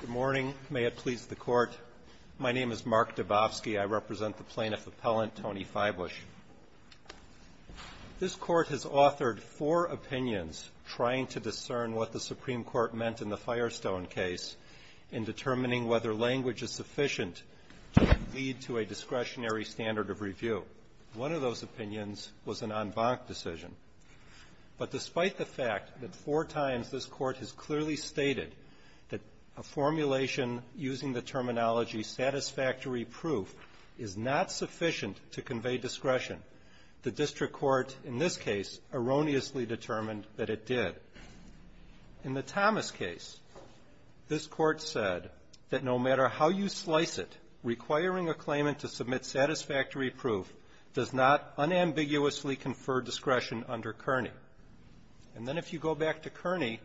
Good morning. May it please the Court. My name is Mark Dabowski. I represent the plaintiff appellant, Tony Feibusch. This Court has authored four opinions trying to discern what the Supreme Court meant in the Firestone case in determining whether language is sufficient to lead to a discretionary standard of review. One of those opinions was an en banc decision. But despite the fact that four times this Court has clearly stated that a formulation using the terminology satisfactory proof is not sufficient to convey discretion, the district court in this case erroneously determined that it did. In the Thomas case, this Court said that no matter how you slice it, requiring a claimant to submit satisfactory proof does not unambiguously confer discretion under Kearney. And then if you go back to Kearney,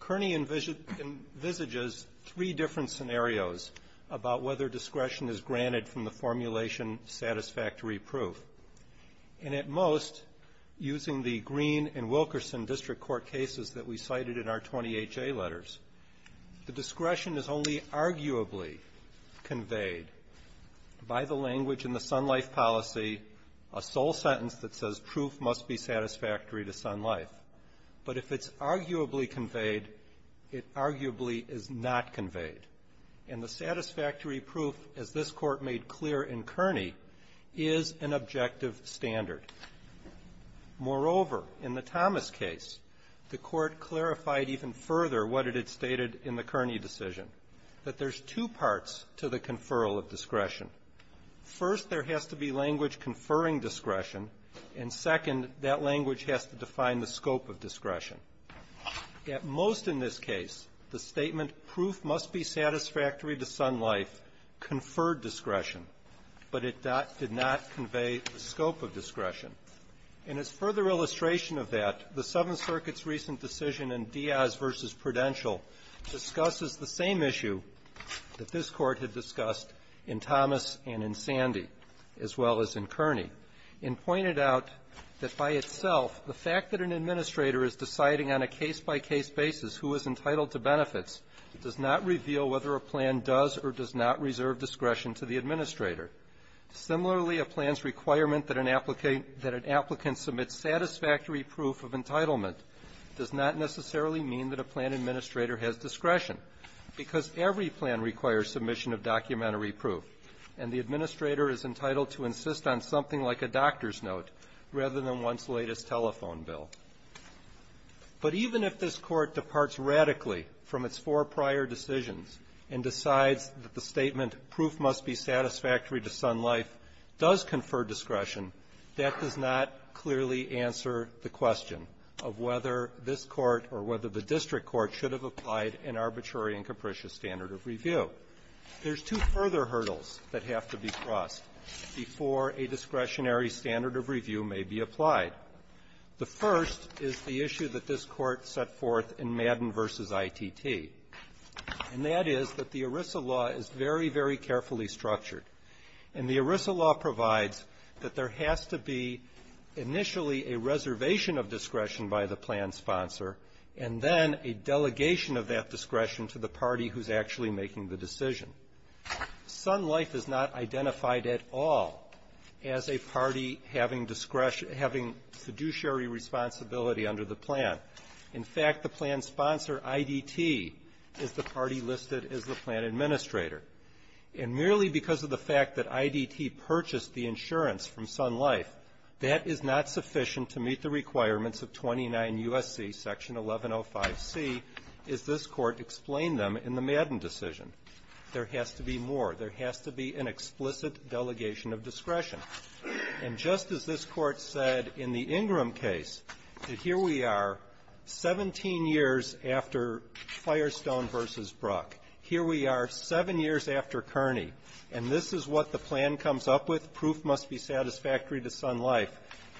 Kearney envisages three different scenarios about whether discretion is granted from the formulation satisfactory proof. And at most, using the Green and Wilkerson district court cases that we cited in our 20HA letters, the discretion is only arguably conveyed by the language in the Sun Life policy, a sole sentence that says proof must be satisfactory to Sun Life. But if it's arguably conveyed, it arguably is not conveyed. And the satisfactory proof, as this Court made clear in Kearney, is an objective standard. Moreover, in the Thomas case, the Court clarified even further what it had stated in the Kearney decision, that there's two parts to the conferral of discretion. First, there has to be language conferring discretion, and second, that language has to define the scope of discretion. At most in this case, the statement proof must be satisfactory to Sun Life conferred discretion, but it did not convey the scope of discretion. And as further illustration of that, the Seventh Circuit's recent decision in Diaz v. Prudential discusses the same issue that this Court had discussed in Thomas and in Sandy, as well as in Kearney, and pointed out that by itself, the fact that an administrator is deciding on a case-by-case basis who is entitled to benefits does not reveal whether a plan does or does not reserve discretion to the administrator. Similarly, a plan's requirement that an applicant submits satisfactory proof of entitlement does not necessarily mean that a plan administrator has discretion, because every plan requires submission of documentary proof, and the administrator is entitled to insist on something like a doctor's note rather than one's latest telephone bill. But even if this Court departs radically from its four prior decisions and decides that the statement proof must be satisfactory to Sun Life does confer discretion, that does not clearly answer the question of whether this Court or whether the district court should have applied an arbitrary and capricious standard of review. There's two further hurdles that have to be crossed before a discretionary standard of review may be applied. The first is the issue that this Court set forth in Madden v. ITT, and that is that the ERISA law is very, very carefully structured. And the ERISA law provides that there has to be initially a reservation of discretion by the plan sponsor, and then a delegation of that discretion to the party who's actually making the decision. Sun Life is not identified at all as a party having discretion having fiduciary responsibility under the plan. In fact, the plan sponsor, IDT, is the party listed as the plan administrator. And merely because of the fact that IDT purchased the insurance from Sun Life, that is not sufficient to meet the requirements of 29 U.S.C. section 1105C as this Court explained them in the Madden decision. There has to be more. There has to be an explicit delegation of discretion. And just as this Court said in the Ingram case, that here we are 17 years after satisfactory to Sun Life,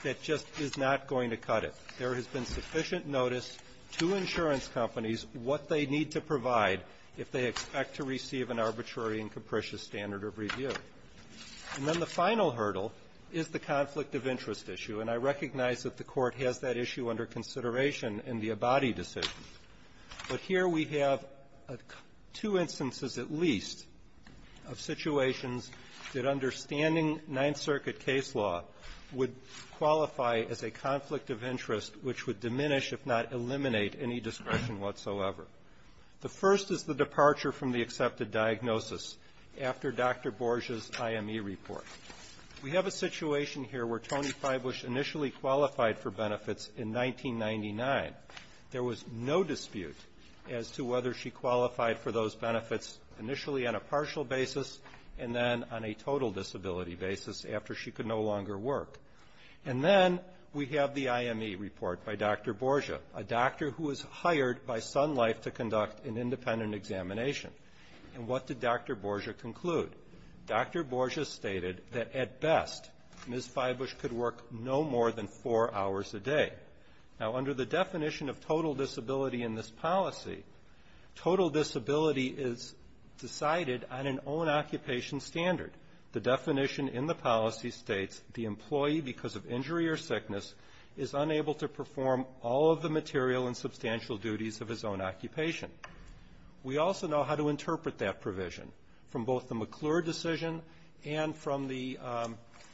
that just is not going to cut it. There has been sufficient notice to insurance companies what they need to provide if they expect to receive an arbitrary and capricious standard of review. And then the final hurdle is the conflict of interest issue, and I recognize that the Court has that issue under consideration in the Abadi decision. But here we have two instances at least of situations that understanding Ninth Circuit case law would qualify as a conflict of interest, which would diminish, if not eliminate, any discretion whatsoever. The first is the departure from the accepted diagnosis after Dr. Borges' IME report. We have a situation here where Tony Feibusch initially qualified for benefits in 1999. There was no dispute as to whether she qualified for those benefits initially on a partial basis and then on a total disability basis after she could no longer work. And then we have the IME report by Dr. Borges, a doctor who was hired by Sun Life to conduct an independent examination. And what did Dr. Borges conclude? Dr. Borges stated that, at best, Ms. Feibusch could work no more than four hours a day. Now, under the definition of total disability in this policy, total disability is decided on an own occupation standard. The definition in the policy states the employee, because of injury or sickness, is unable to perform all of the material and substantial duties of his own occupation. We also know how to work to interpret that provision from both the McClure decision and from the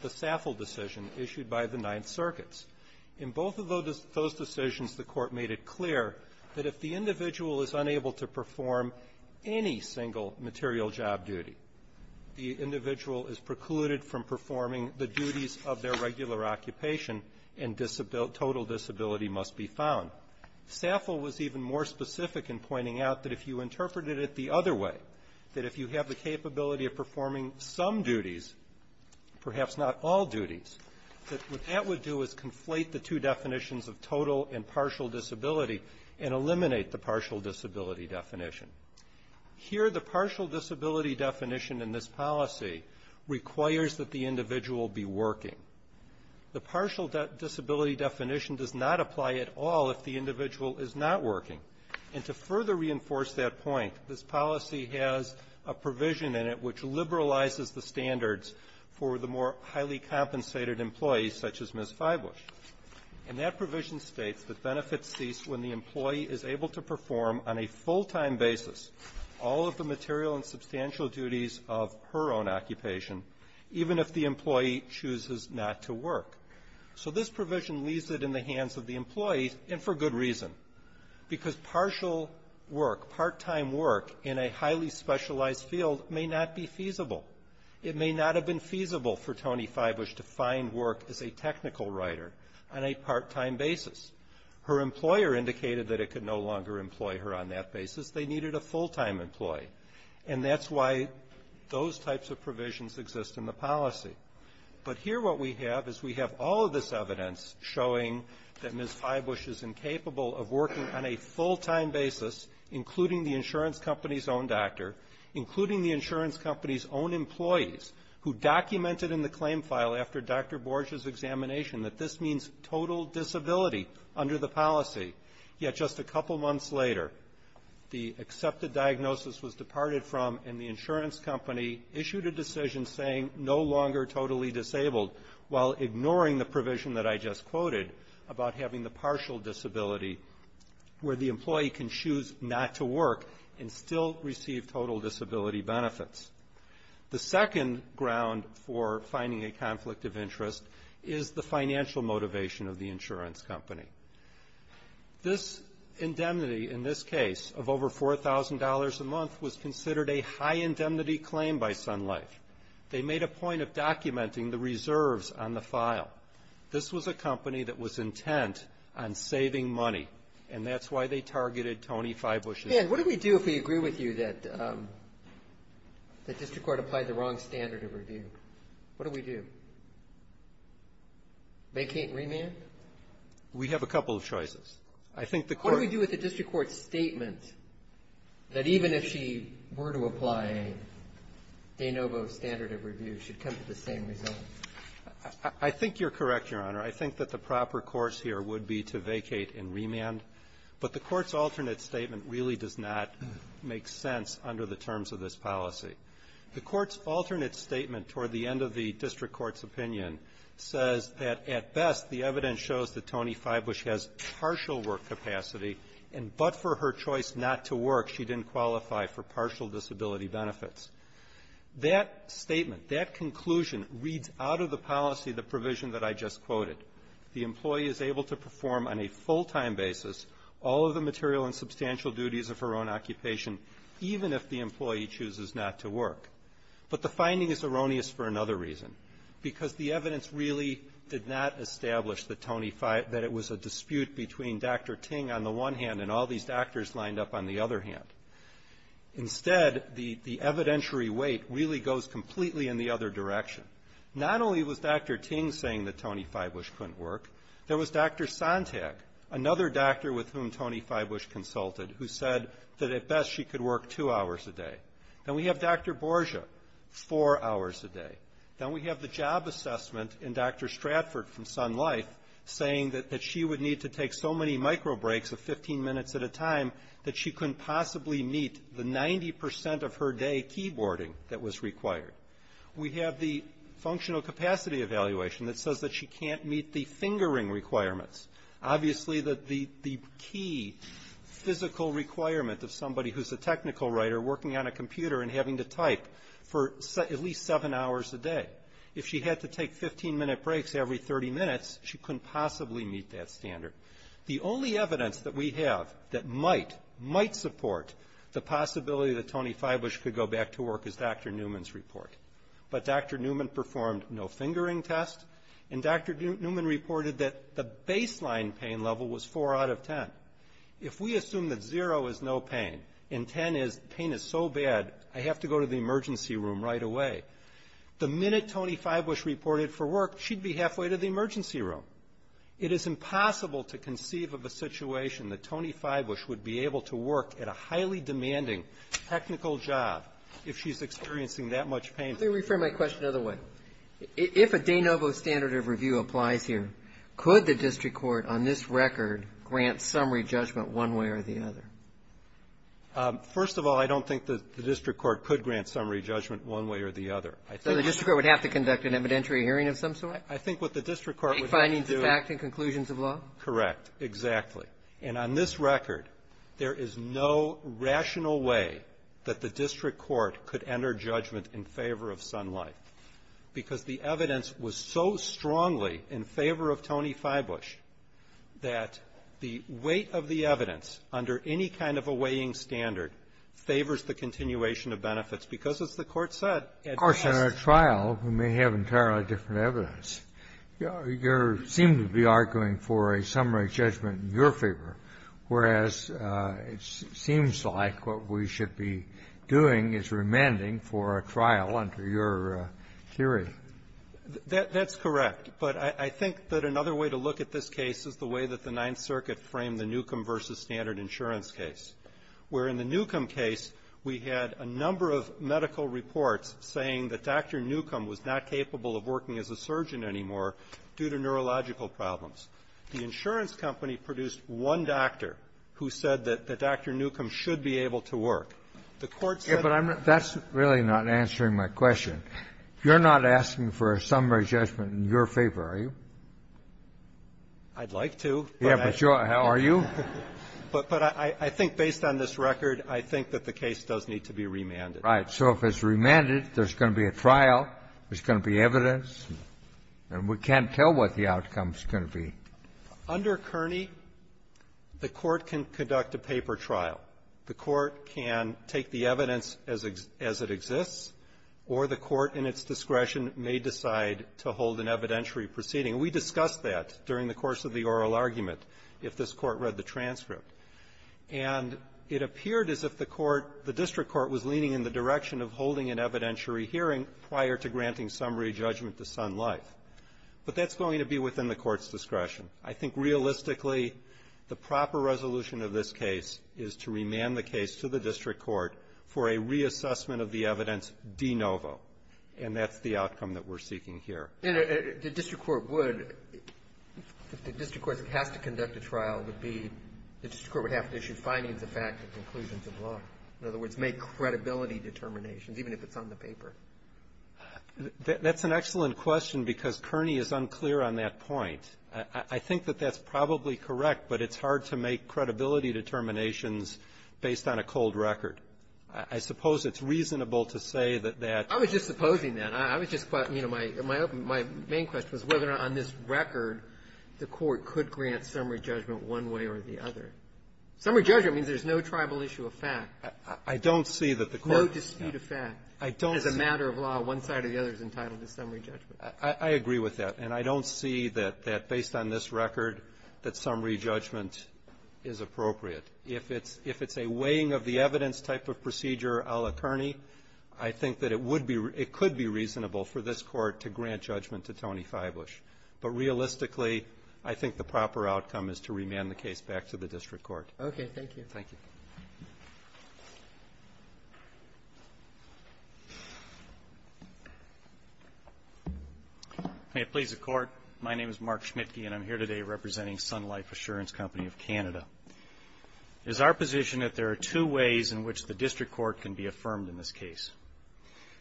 Saffel decision issued by the Ninth Circuits. In both of those decisions, the Court made it clear that if the individual is unable to perform any single material job duty, the individual is precluded from performing the duties of their regular occupation, and total disability must be found. Saffel was even more specific in pointing out that if you interpreted it the other way, that if you have the capability of performing some duties, perhaps not all duties, that what that would do is conflate the two definitions of total and partial disability and eliminate the partial disability definition. Here, the partial disability definition in this policy requires that the individual be working. The partial disability definition does not apply at all if the individual is not working. And to further reinforce that point, this policy has a provision in it which liberalizes the standards for the more highly compensated employees, such as Ms. Feibusch. And that provision states that benefits cease when the employee is able to perform on a full-time basis all of the material and substantial duties of her own occupation, even if the employee chooses not to work. So this provision leaves it in the hands of the employee, and for good reason. Because partial work, part-time work, in a highly specialized field may not be feasible. It may not have been feasible for Tony Feibusch to find work as a technical writer on a part-time basis. Her employer indicated that it could no longer employ her on that basis. They needed a full-time employee. And that's why those types of provisions exist in the policy. But here what we have is we have all of this evidence showing that Ms. Feibusch is incapable of working on a full-time basis, including the insurance company's own doctor, including the insurance company's own employees, who documented in the claim file after Dr. Borges' examination that this means total disability under the policy. Yet just a couple months later, the accepted diagnosis was departed from, and the insurance company issued a decision saying no longer totally disabled, while ignoring the provision that I just quoted about having the partial disability, where the employee can choose not to work and still receive total disability benefits. The second ground for finding a conflict of interest is the financial motivation of the insurance company. This indemnity in this case of over $4,000 a month was considered a high indemnity claim by Sun Life. They made a point of documenting the reserves on the file. This was a company that was intent on saving money. And that's why they targeted Tony Feibusch's claim. And what do we do if we agree with you that the district court applied the wrong standard of review? What do we do? Vacate and remand? We have a couple of choices. I think the court What do we do with the district court's statement that even if she were to apply de novo standard of review, it should come to the same result? I think you're correct, Your Honor. I think that the proper course here would be to vacate and remand. But the court's alternate statement really does not make sense under the terms of this policy. The court's alternate statement toward the end of the district court's opinion says that, at best, the evidence shows that Tony Feibusch has partial work capacity, and but for her choice not to work, she didn't qualify for partial disability benefits. That statement, that conclusion reads out of the policy the provision that I just quoted. The employee is able to perform on a full-time basis all of the material and substantial duties of her own occupation, even if the employee chooses not to work. But the finding is erroneous for another reason, because the evidence really did not establish that Tony Feibusch that it was a dispute between Dr. Ting on the one hand and all these doctors lined up on the other hand. Instead, the evidentiary weight really goes completely in the other direction. Not only was Dr. Ting saying that Tony Feibusch couldn't work, there was Dr. Sontag, another doctor with whom Tony Feibusch consulted, who said that, at best, she could work two hours a day. Then we have Dr. Borgia, four hours a day. Then we have the job assessment in Dr. Stratford from Sun Life saying that she would need to take so many microbreaks of 15 minutes at a time that she couldn't possibly meet the 90% of her day keyboarding that was required. We have the functional capacity evaluation that says that she can't meet the fingering requirements. Obviously, the key physical requirement of somebody who's a technical writer working on a computer and having to type for at least seven hours a day. If she had to take 15-minute breaks every 30 minutes, she couldn't possibly meet that standard. The only evidence that we have that might support the possibility that Tony Feibusch could go back to work is Dr. Newman's report. But Dr. Newman performed no fingering test, and Dr. Newman reported that the baseline pain level was four out of ten. If we assume that zero is no pain and ten is pain is so bad, I have to go to the emergency room right away, the minute Tony Feibusch reported for work, she'd be halfway to the emergency room. It is impossible to conceive of a situation that Tony Feibusch would be able to work at a highly demanding technical job if she's experiencing that much pain. Let me refer my question the other way. If a de novo standard of review applies here, could the district court on this record grant summary judgment one way or the other? First of all, I don't think that the district court could grant summary judgment one way or the other. So the district court would have to conduct an evidentiary hearing of some sort? I think what the district court would have to do — To take findings of fact and conclusions of law? Correct. Exactly. And on this record, there is no rational way that the district court could enter judgment in favor of Sun Life, because the evidence was so strongly in favor of Tony Feibusch that the weight of the evidence under any kind of a weighing standard favors the continuation of benefits because, as the Court said, at the test — You seem to be arguing for a summary judgment in your favor, whereas it seems like what we should be doing is remanding for a trial under your theory. That's correct. But I think that another way to look at this case is the way that the Ninth Circuit framed the Newcomb v. Standard Insurance case, where in the Newcomb case, we had a number of medical reports saying that Dr. Newcomb was not capable of working as a surgeon anymore due to neurological problems. The insurance company produced one doctor who said that Dr. Newcomb should be able to work. The Court said — Yeah, but I'm not — that's really not answering my question. You're not asking for a summary judgment in your favor, are you? I'd like to, but I — Yeah, but you're — are you? But I think based on this record, I think that the case does need to be remanded. Right. So if it's remanded, there's going to be a trial, there's going to be evidence, and we can't tell what the outcome's going to be. Under Kearney, the Court can conduct a paper trial. The Court can take the evidence as it exists, or the Court, in its discretion, may decide to hold an evidentiary proceeding. We discussed that during the course of the oral argument, if this Court read the transcript. And it appeared as if the Court — the district court was leaning in the direction of holding an evidentiary hearing prior to granting summary judgment to Sun Life. But that's going to be within the Court's discretion. I think realistically, the proper resolution of this case is to remand the case to the district court for a reassessment of the evidence de novo. And that's the outcome that we're seeking here. And the district court would — if the district court has to conduct a trial, it would be — the district court would have to issue findings of fact and conclusions of law, in other words, make credibility determinations, even if it's on the paper. That's an excellent question, because Kearney is unclear on that point. I think that that's probably correct, but it's hard to make credibility determinations based on a cold record. I suppose it's reasonable to say that that — I was just supposing that. I was just — you know, my — my main question was whether or not on this record the Court could grant summary judgment one way or the other. Summary judgment means there's no tribal issue of fact. I don't see that the Court — No dispute of fact. I don't see — As a matter of law, one side or the other is entitled to summary judgment. I agree with that. And I don't see that, based on this record, that summary judgment is appropriate. If it's a weighing of the evidence type of procedure a la Kearney, I think that it would be — it could be reasonable for this Court to grant judgment to Tony Feiblish. But realistically, I think the proper outcome is to remand the case back to the district court. Okay. Thank you. Thank you. May it please the Court. My name is Mark Schmitke, and I'm here today representing Sun Life Assurance Company of Canada. It is our position that there are two ways in which the district court can be affirmed in this case.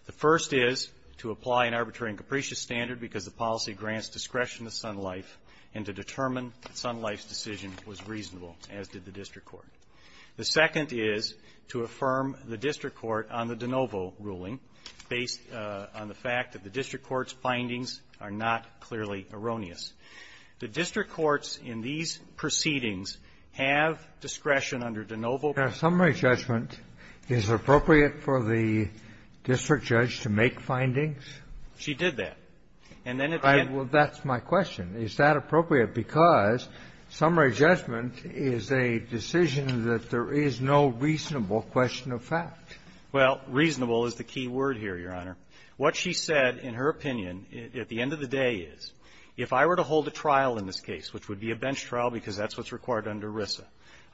The first is to apply an arbitrary and capricious standard because the policy grants discretion to Sun Life and to determine that Sun Life's decision was reasonable, as did the district court. The second is to affirm the district court on the De Novo ruling based on the fact that the district court's findings are not clearly erroneous. The district courts in these proceedings have discretion under De Novo. Your Honor, summary judgment, is it appropriate for the district judge to make findings? She did that. And then if you — Well, that's my question. Is that appropriate? Because summary judgment is a decision that there is no reasonable question of fact. Well, reasonable is the key word here, Your Honor. What she said, in her opinion, at the end of the day is, if I were to hold a trial in this case, which would be a bench trial because that's what's required under De Novo,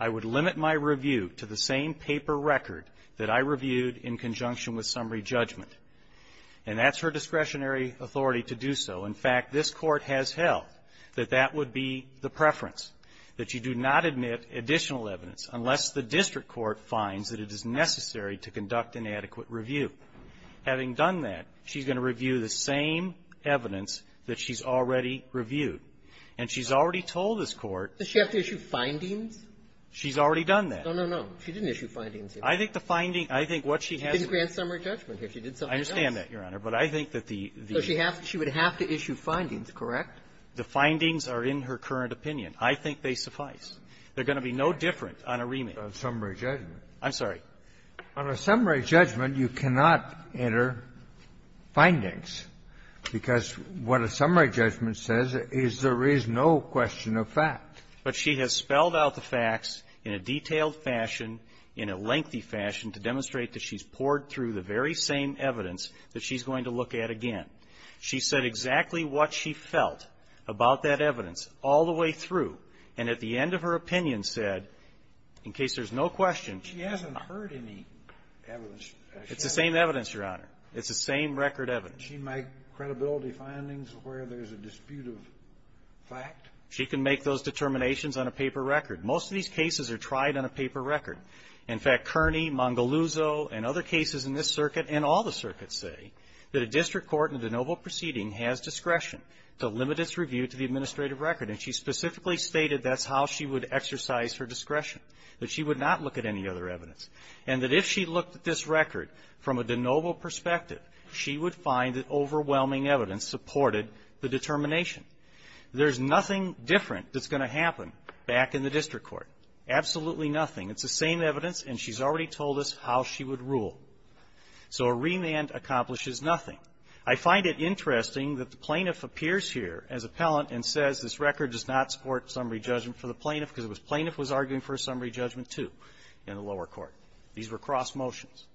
would I review to the same paper record that I reviewed in conjunction with summary judgment? And that's her discretionary authority to do so. In fact, this Court has held that that would be the preference, that you do not admit additional evidence unless the district court finds that it is necessary to conduct an adequate review. Having done that, she's going to review the same evidence that she's already reviewed. And she's already told this Court — Does she have to issue findings? She's already done that. No, no, no. She didn't issue findings. I think the finding — I think what she has to do — She didn't grant summary judgment here. She did something else. I understand that, Your Honor. But I think that the — So she would have to issue findings, correct? The findings are in her current opinion. I think they suffice. They're going to be no different on a remand. On summary judgment. I'm sorry. On a summary judgment, you cannot enter findings, because what a summary judgment says is there is no question of fact. But she has spelled out the facts in a detailed fashion, in a lengthy fashion, to demonstrate that she's poured through the very same evidence that she's going to look at again. She said exactly what she felt about that evidence all the way through, and at the end of her opinion said, in case there's no question — She hasn't heard any evidence. It's the same evidence, Your Honor. It's the same record evidence. She might credibility findings where there's a dispute of fact? She can make those determinations on a paper record. Most of these cases are tried on a paper record. In fact, Kearney, Mongaluzzo, and other cases in this circuit, and all the circuits say that a district court in a de novo proceeding has discretion to limit its review to the administrative record. And she specifically stated that's how she would exercise her discretion, that she would not look at any other evidence. And that if she looked at this record from a de novo perspective, she would find that overwhelming evidence supported the determination. There's nothing different that's going to happen back in the district court, absolutely nothing. It's the same evidence, and she's already told us how she would rule. So a remand accomplishes nothing. I find it interesting that the plaintiff appears here as appellant and says this record does not support summary judgment for the plaintiff because the plaintiff was arguing for a summary judgment, too, in the lower court. These were cross motions.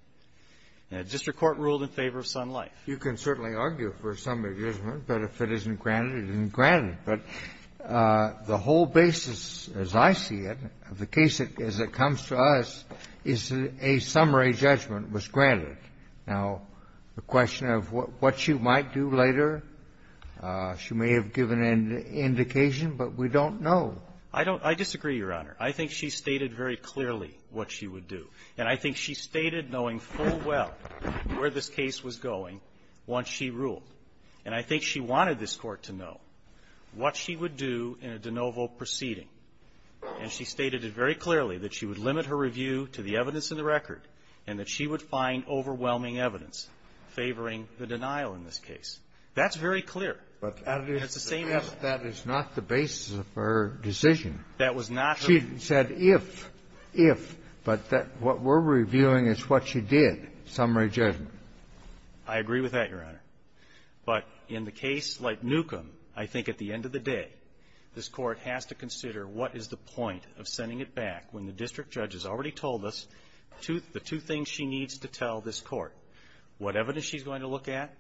And a district court ruled in favor of Sun Life. Kennedy, you can certainly argue for a summary judgment, but if it isn't granted, it isn't granted. But the whole basis, as I see it, of the case as it comes to us is that a summary judgment was granted. Now, the question of what she might do later, she may have given an indication, but we don't know. I don't – I disagree, Your Honor. I think she stated very clearly what she would do. And I think she stated, knowing full well where this case was going, once she ruled. And I think she wanted this Court to know what she would do in a de novo proceeding. And she stated it very clearly, that she would limit her review to the evidence in the record, and that she would find overwhelming evidence favoring the denial in this case. That's very clear. And it's the same evidence. Kennedy, that is not the basis of her decision. That was not her – She said if, if, but that what we're reviewing is what she did, summary judgment. I agree with that, Your Honor. But in the case like Newcomb, I think at the end of the day, this Court has to consider what is the point of sending it back when the district judge has already told us the two things she needs to tell this Court, what evidence she's going to look at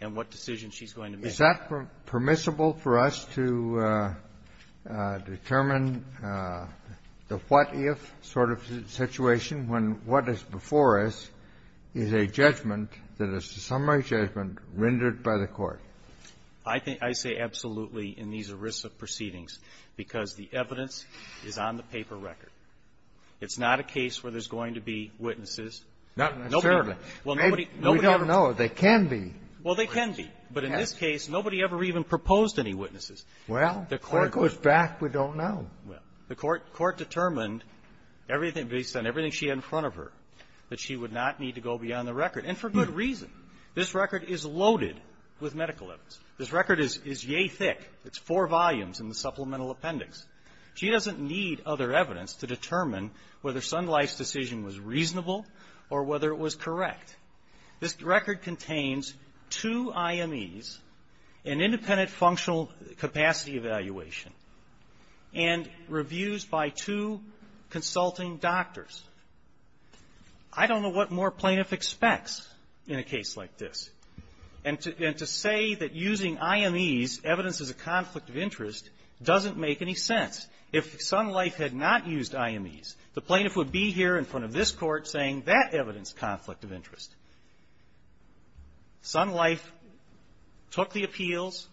and what decision she's going to make. Kennedy, is that permissible for us to determine the what-if sort of situation when what is before us is a judgment that is a summary judgment rendered by the Court? I think – I say absolutely in these ERISA proceedings, because the evidence is on the paper record. It's not a case where there's going to be witnesses. Not necessarily. Well, nobody – nobody ever – We don't know. They can be. Well, they can be. But in this case, nobody ever even proposed any witnesses. Well, the Court goes back. We don't know. Well, the Court determined everything based on everything she had in front of her that she would not need to go beyond the record, and for good reason. This record is loaded with medical evidence. This record is – is yea thick. It's four volumes in the supplemental appendix. She doesn't need other evidence to determine whether Sun Life's decision was reasonable or whether it was correct. This record contains two IMEs, an independent functional capacity evaluation, and reviews by two consulting doctors. I don't know what more plaintiff expects in a case like this. And to – and to say that using IMEs evidences a conflict of interest doesn't make any sense. If Sun Life had not used IMEs, the plaintiff would be here in front of this Court saying that evidenced conflict of interest. Sun Life took the appeals,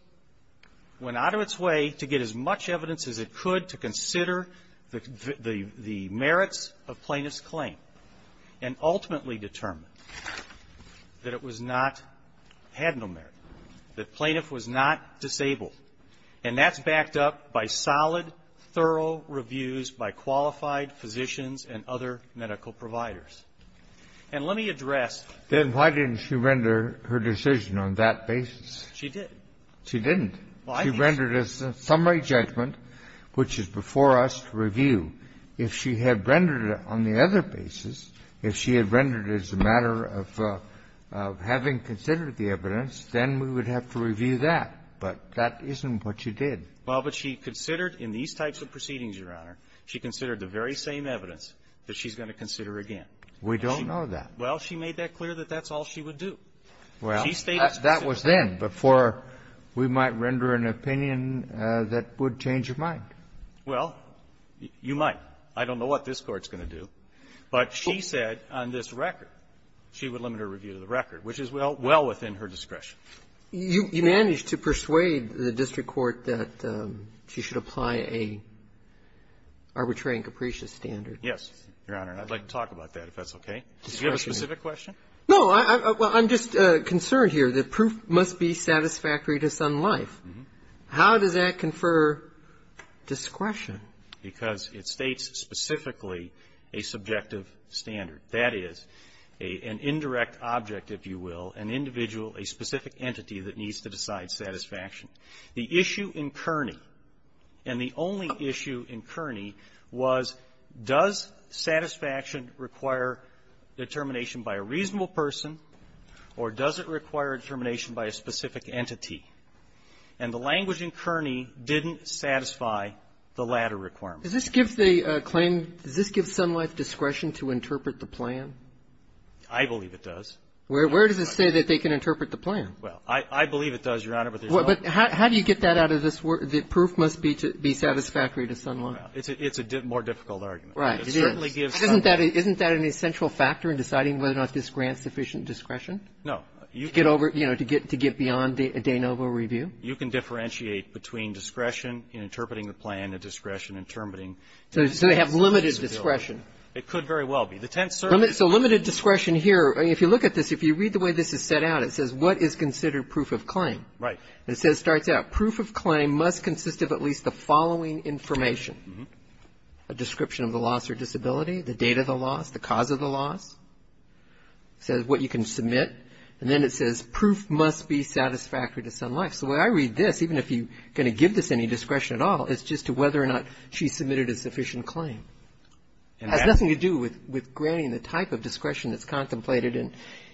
went out of its way to get as much evidence as it could to consider the – the merits of plaintiff's claim, and ultimately determined that it was not – had no merit, that plaintiff was not disabled. And that's backed up by solid, thorough reviews by qualified physicians and other medical providers. And let me address the – Kennedy, then why didn't she render her decision on that basis? She did. She didn't. She rendered a summary judgment, which is before us to review. If she had rendered it on the other basis, if she had rendered it as a matter of having considered the evidence, then we would have to review that. But that isn't what she did. Well, but she considered in these types of proceedings, Your Honor, she considered the very same evidence that she's going to consider again. We don't know that. Well, she made that clear that that's all she would do. Well, that was then, before we might render an opinion that would change her mind. Well, you might. I don't know what this Court's going to do. But she said on this record, she would limit her review to the record, which is well within her discretion. You managed to persuade the district court that she should apply a arbitrary and capricious standard. Yes, Your Honor. And I'd like to talk about that, if that's okay. Do you have a specific question? No. I'm just concerned here that proof must be satisfactory to some life. How does that confer discretion? Because it states specifically a subjective standard. That is, an indirect object, if you will, an individual, a specific entity that needs to decide satisfaction. The issue in Kearney, and the only issue in Kearney, was does satisfaction require determination by a reasonable person, or does it require determination by a specific entity? And the language in Kearney didn't satisfy the latter requirement. Does this give the claim, does this give Sun Life discretion to interpret the plan? I believe it does. Where does it say that they can interpret the plan? Well, I believe it does, Your Honor, but there's no ---- But how do you get that out of this? The proof must be satisfactory to Sun Life. It's a more difficult argument. Right. It certainly gives Sun Life ---- Isn't that an essential factor in deciding whether or not this grants sufficient discretion? No. To get over, you know, to get beyond the de novo review? You can differentiate between discretion in interpreting the plan and discretion in interpreting ---- So they have limited discretion. It could very well be. The tense certainly ---- So limited discretion here, if you look at this, if you read the way this is set out, it says what is considered proof of claim. Right. And it says, starts out, proof of claim must consist of at least the following information, a description of the loss or disability, the date of the loss, the cause of the loss, says what you can submit, and then it says proof must be satisfactory to Sun Life. So the way I read this, even if you're going to give this any discretion at all, it's just to whether or not she submitted a sufficient claim. And that's ---- It has nothing to do with granting the type of discretion that's contemplated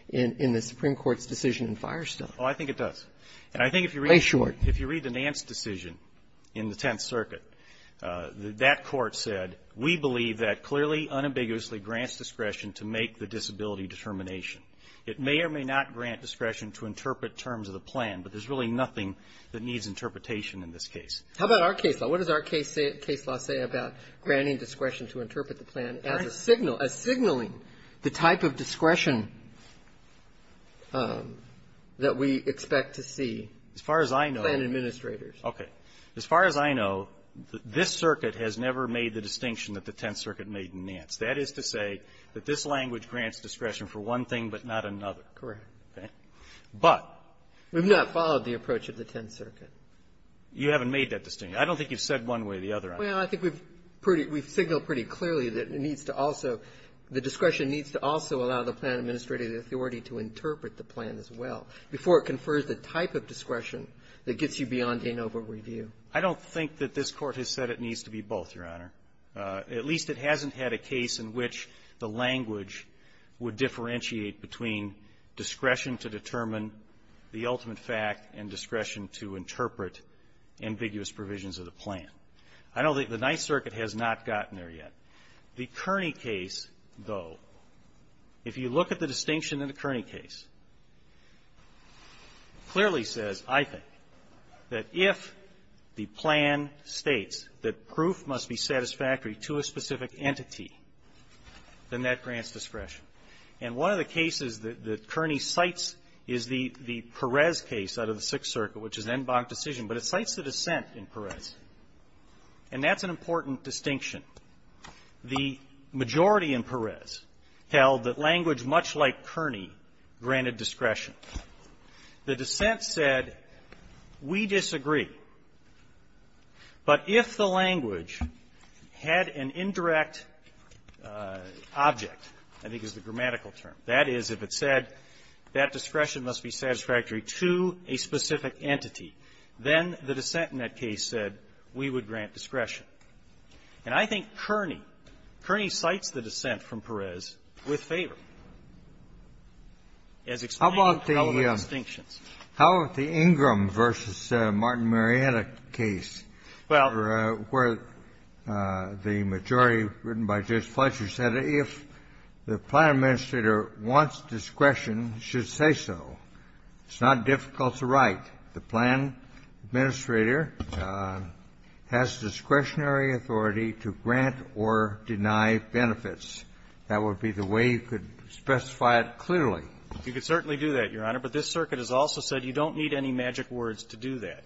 in the Supreme Court's decision in Firestone. Oh, I think it does. And I think if you read the Nance decision in the Tenth Circuit, that court said, we believe that clearly, unambiguously grants discretion to make the disability determination. It may or may not grant discretion to interpret terms of the plan, but there's really nothing that needs interpretation in this case. How about our case law? What does our case law say about granting discretion to interpret the plan as a signal as signaling the type of discretion that we expect to see? As far as I know ---- By the administrators. Okay. As far as I know, this circuit has never made the distinction that the Tenth Circuit made in Nance. That is to say that this language grants discretion for one thing but not another. Correct. Okay. But ---- We've not followed the approach of the Tenth Circuit. You haven't made that distinction. I don't think you've said one way or the other, Your Honor. Well, I think we've pretty ---- we've signaled pretty clearly that it needs to also ---- the discretion needs to also allow the plan administrator the authority to interpret the plan as well before it confers the type of discretion that gets you beyond a no-over review. I don't think that this Court has said it needs to be both, Your Honor. At least it hasn't had a case in which the language would differentiate between discretion to determine the ultimate fact and discretion to interpret ambiguous provisions of the plan. I know the Ninth Circuit has not gotten there yet. The Kearney case, though, if you look at the distinction in the Kearney case, clearly says, I think, that if the plan states that proof must be satisfactory to a specific entity, then that grants discretion. And one of the cases that Kearney cites is the Perez case out of the Sixth Circuit, which is an en banc decision, but it cites the dissent in Perez. And that's an important distinction. The majority in Perez held that language much like Kearney granted discretion. The dissent said, we disagree. But if the language had an indirect object, I think is the grammatical term, that is, if it said that discretion must be satisfactory to a specific entity, then the dissent in that case said, we would grant discretion. And I think Kearney, Kearney cites the dissent from Perez with favor, as explained by the relevant distinctions. Kennedy, how about the Ingram v. Martin Marietta case? Well, where the majority, written by Judge Fletcher, said if the plan administrator wants discretion, should say so. It's not difficult to write. The plan administrator has discretionary authority to grant or deny benefits. That would be the way you could specify it clearly. You could certainly do that, Your Honor. But this circuit has also said you don't need any magic words to do that.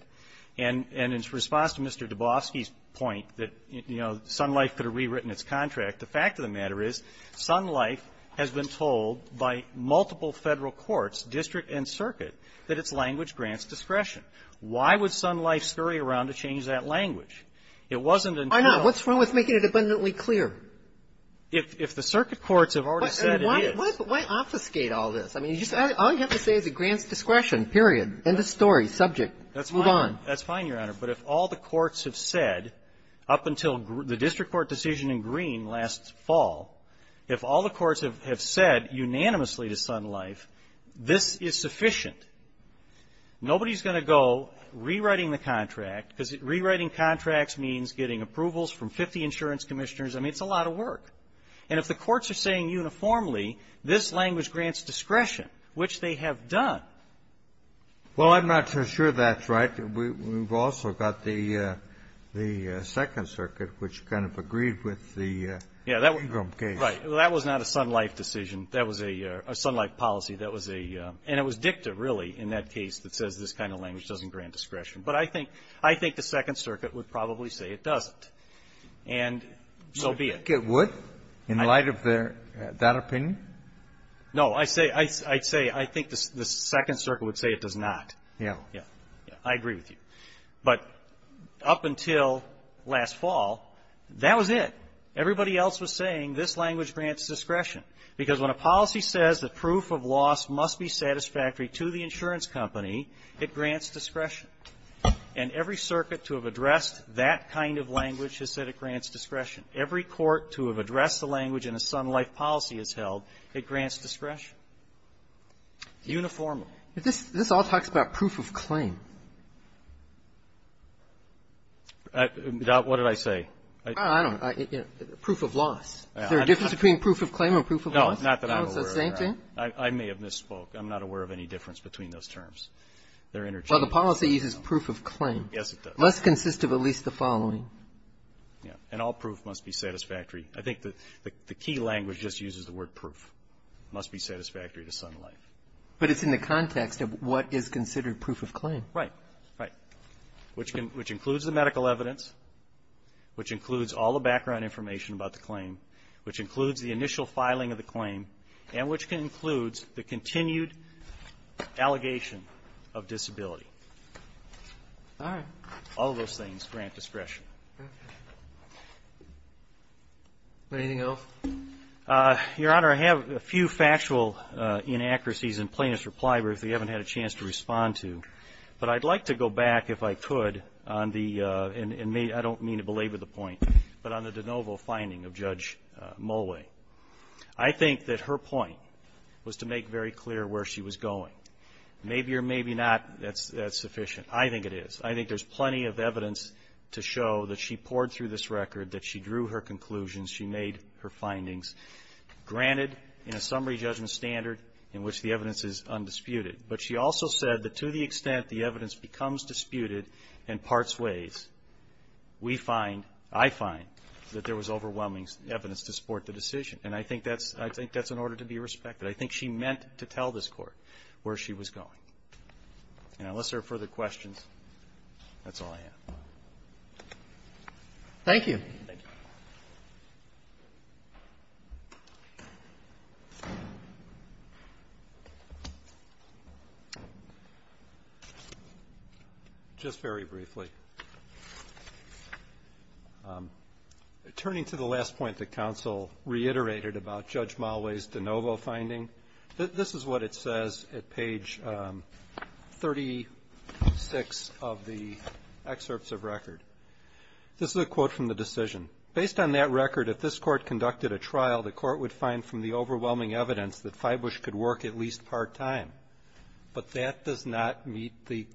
And in response to Mr. Dubofsky's point that, you know, Sun Life could have rewritten its contract, the fact of the matter is Sun Life has been told by multiple Federal courts, district and circuit, that its language grants discretion. Why would Sun Life scurry around to change that language? It wasn't until the ---- Why not? What's wrong with making it abundantly clear? If the circuit courts have already said it is. But why obfuscate all this? I mean, all you have to say is it grants discretion. Period. End of story. Subject. Let's move on. That's fine, Your Honor. But if all the courts have said, up until the district court decision in Greene last fall, if all the courts have said unanimously to Sun Life, this is sufficient. Nobody's going to go rewriting the contract, because rewriting contracts means getting approvals from 50 insurance commissioners. I mean, it's a lot of work. And if the this language grants discretion, which they have done. Well, I'm not so sure that's right. We've also got the Second Circuit, which kind of agreed with the Ingram case. Right. Well, that was not a Sun Life decision. That was a Sun Life policy. That was a ---- and it was dicta, really, in that case that says this kind of language doesn't grant discretion. But I think the Second Circuit would probably say it doesn't. And so be it. I think it would, in light of their ---- that opinion. No. I say ---- I'd say I think the Second Circuit would say it does not. Yeah. Yeah. I agree with you. But up until last fall, that was it. Everybody else was saying this language grants discretion. Because when a policy says that proof of loss must be satisfactory to the insurance company, it grants discretion. And every circuit to have addressed that kind of language has said it grants discretion. Every court to have addressed the language in a Sun Life policy has held it grants discretion. Uniformly. This all talks about proof of claim. What did I say? I don't know. Proof of loss. Is there a difference between proof of claim and proof of loss? No, not that I'm aware of. No, it's the same thing? I may have misspoke. I'm not aware of any difference between those terms. They're interchangeable. Well, the policy uses proof of claim. Yes, it does. Less consistent of at least the following. Yes. And all proof must be satisfactory. I think the key language just uses the word proof. It must be satisfactory to Sun Life. But it's in the context of what is considered proof of claim. Right. Right. Which includes the medical evidence, which includes all the background information about the claim, which includes the initial filing of the claim, and which includes the continued allegation of disability. All right. All those things grant discretion. Anything else? Your Honor, I have a few factual inaccuracies in plaintiff's reply, but they haven't had a chance to respond to. But I'd like to go back, if I could, on the, and I don't mean to belabor the point, but on the DeNovo finding of Judge Mollway. I think that her point was to make very clear where she was going. Maybe or maybe not that's sufficient. I think it is. I think there's plenty of evidence to show that she poured through this record, that she drew her conclusions, she made her findings granted in a summary judgment standard in which the evidence is undisputed. But she also said that to the extent the evidence becomes disputed and parts ways, we find, I find, that there was overwhelming evidence to support the decision. And I think that's, I think that's in order to be respected. I think she meant to tell this Court where she was going. And unless there are further questions, that's all I have. Thank you. Thank you. Just very briefly, turning to the last point that counsel reiterated about Judge Mollway's DeNovo finding. This is what it says at page 36 of the excerpts of record. This is a quote from the decision. Based on that record, if this Court conducted a trial, the Court would find from the overwhelming evidence that Fibush could work at least part-time. But that does not meet the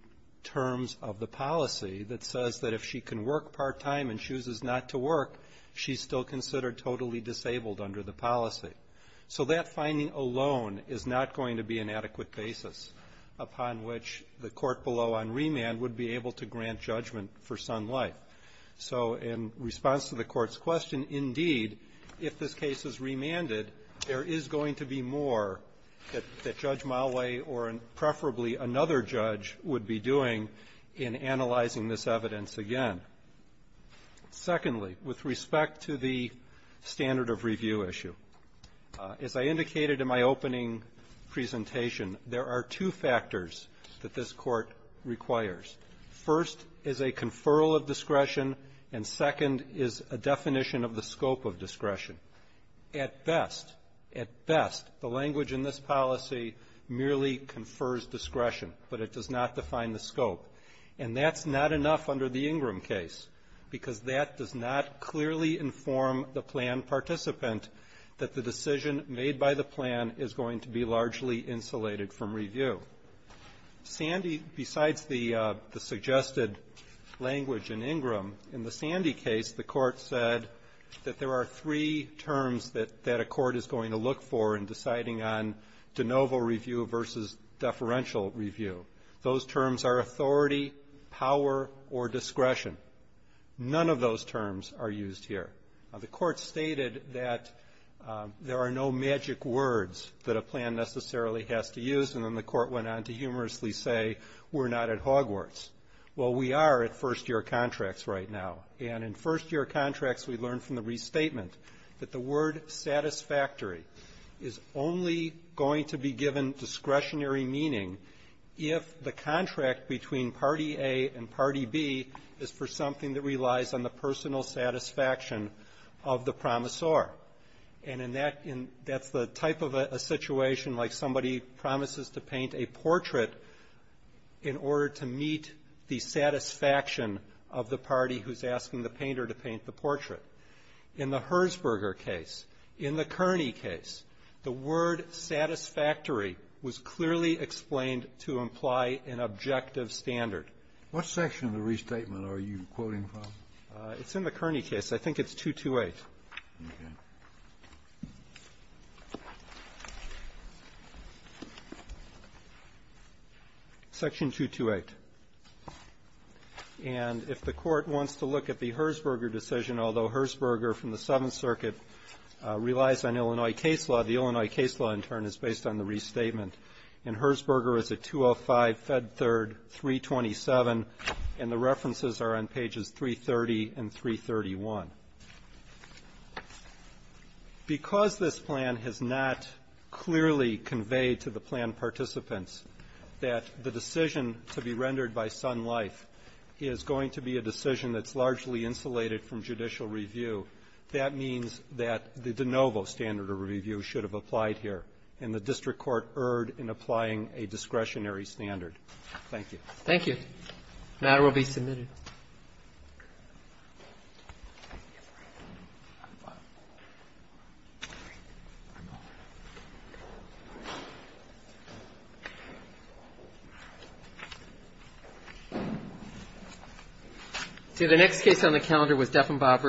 terms of the policy that says that if she can work part-time and chooses not to work, she's still considered totally disabled under the policy. So that finding alone is not going to be an adequate basis upon which the Court below on remand would be able to grant judgment for son life. So in response to the Court's question, indeed, if this case is remanded, there is going to be more that Judge Mollway or preferably another judge would be doing in analyzing this evidence again. Secondly, with respect to the standard of review issue, as I indicated in my opening presentation, there are two factors that this Court requires. First is a conferral of discretion, and second is a definition of the scope of discretion. At best, at best, the language in this policy merely confers discretion, but it does not define the scope. And that's not enough under the Ingram case, because that does not clearly inform the plan participant that the decision made by the plan is going to be largely insulated from review. Sandy, besides the suggested language in Ingram, in the Sandy case, the Court said that there are three terms that a court is going to look for in deciding on de novo review versus deferential review. Those terms are authority, power, or discretion. None of those terms are used here. The Court stated that there are no magic words that a plan necessarily has to use, and then the Court went on to humorously say, we're not at Hogwarts. Well, we are at first-year contracts right now, and in first-year contracts, we learned from the restatement that the word satisfactory is only going to be given discretionary meaning if the contract between party A and party B is for something that relies on the personal satisfaction of the promissor. And in that end, that's the type of a situation like somebody promises to paint a portrait in order to meet the satisfaction of the party who's asking the painter to paint the portrait. In the Herzberger case, in the Kearney case, the word satisfactory was clearly explained to imply an objective standard. What section of the restatement are you quoting from? It's in the Kearney case. I think it's 228. Section 228. And if the Court wants to look at the Herzberger decision, although Herzberger from the Seventh Circuit relies on Illinois case law, the Illinois case law, in turn, is based on the restatement. And Herzberger is at 205, Fed Third, 327, and the references are on pages 330 and 331. Because this plan has not clearly conveyed to the plan participants that the decision to be rendered by Sun Life is going to be a decision that's largely insulated from judicial review, that means that the de novo standard of review should have applied here, and the district court erred in applying a discretionary standard. Thank you. Thank you. The matter will be submitted. See you, Brian. I'm fine. All right. All right. I'm all right. See, the next case on the calendar was Deffenbach versus Dekker.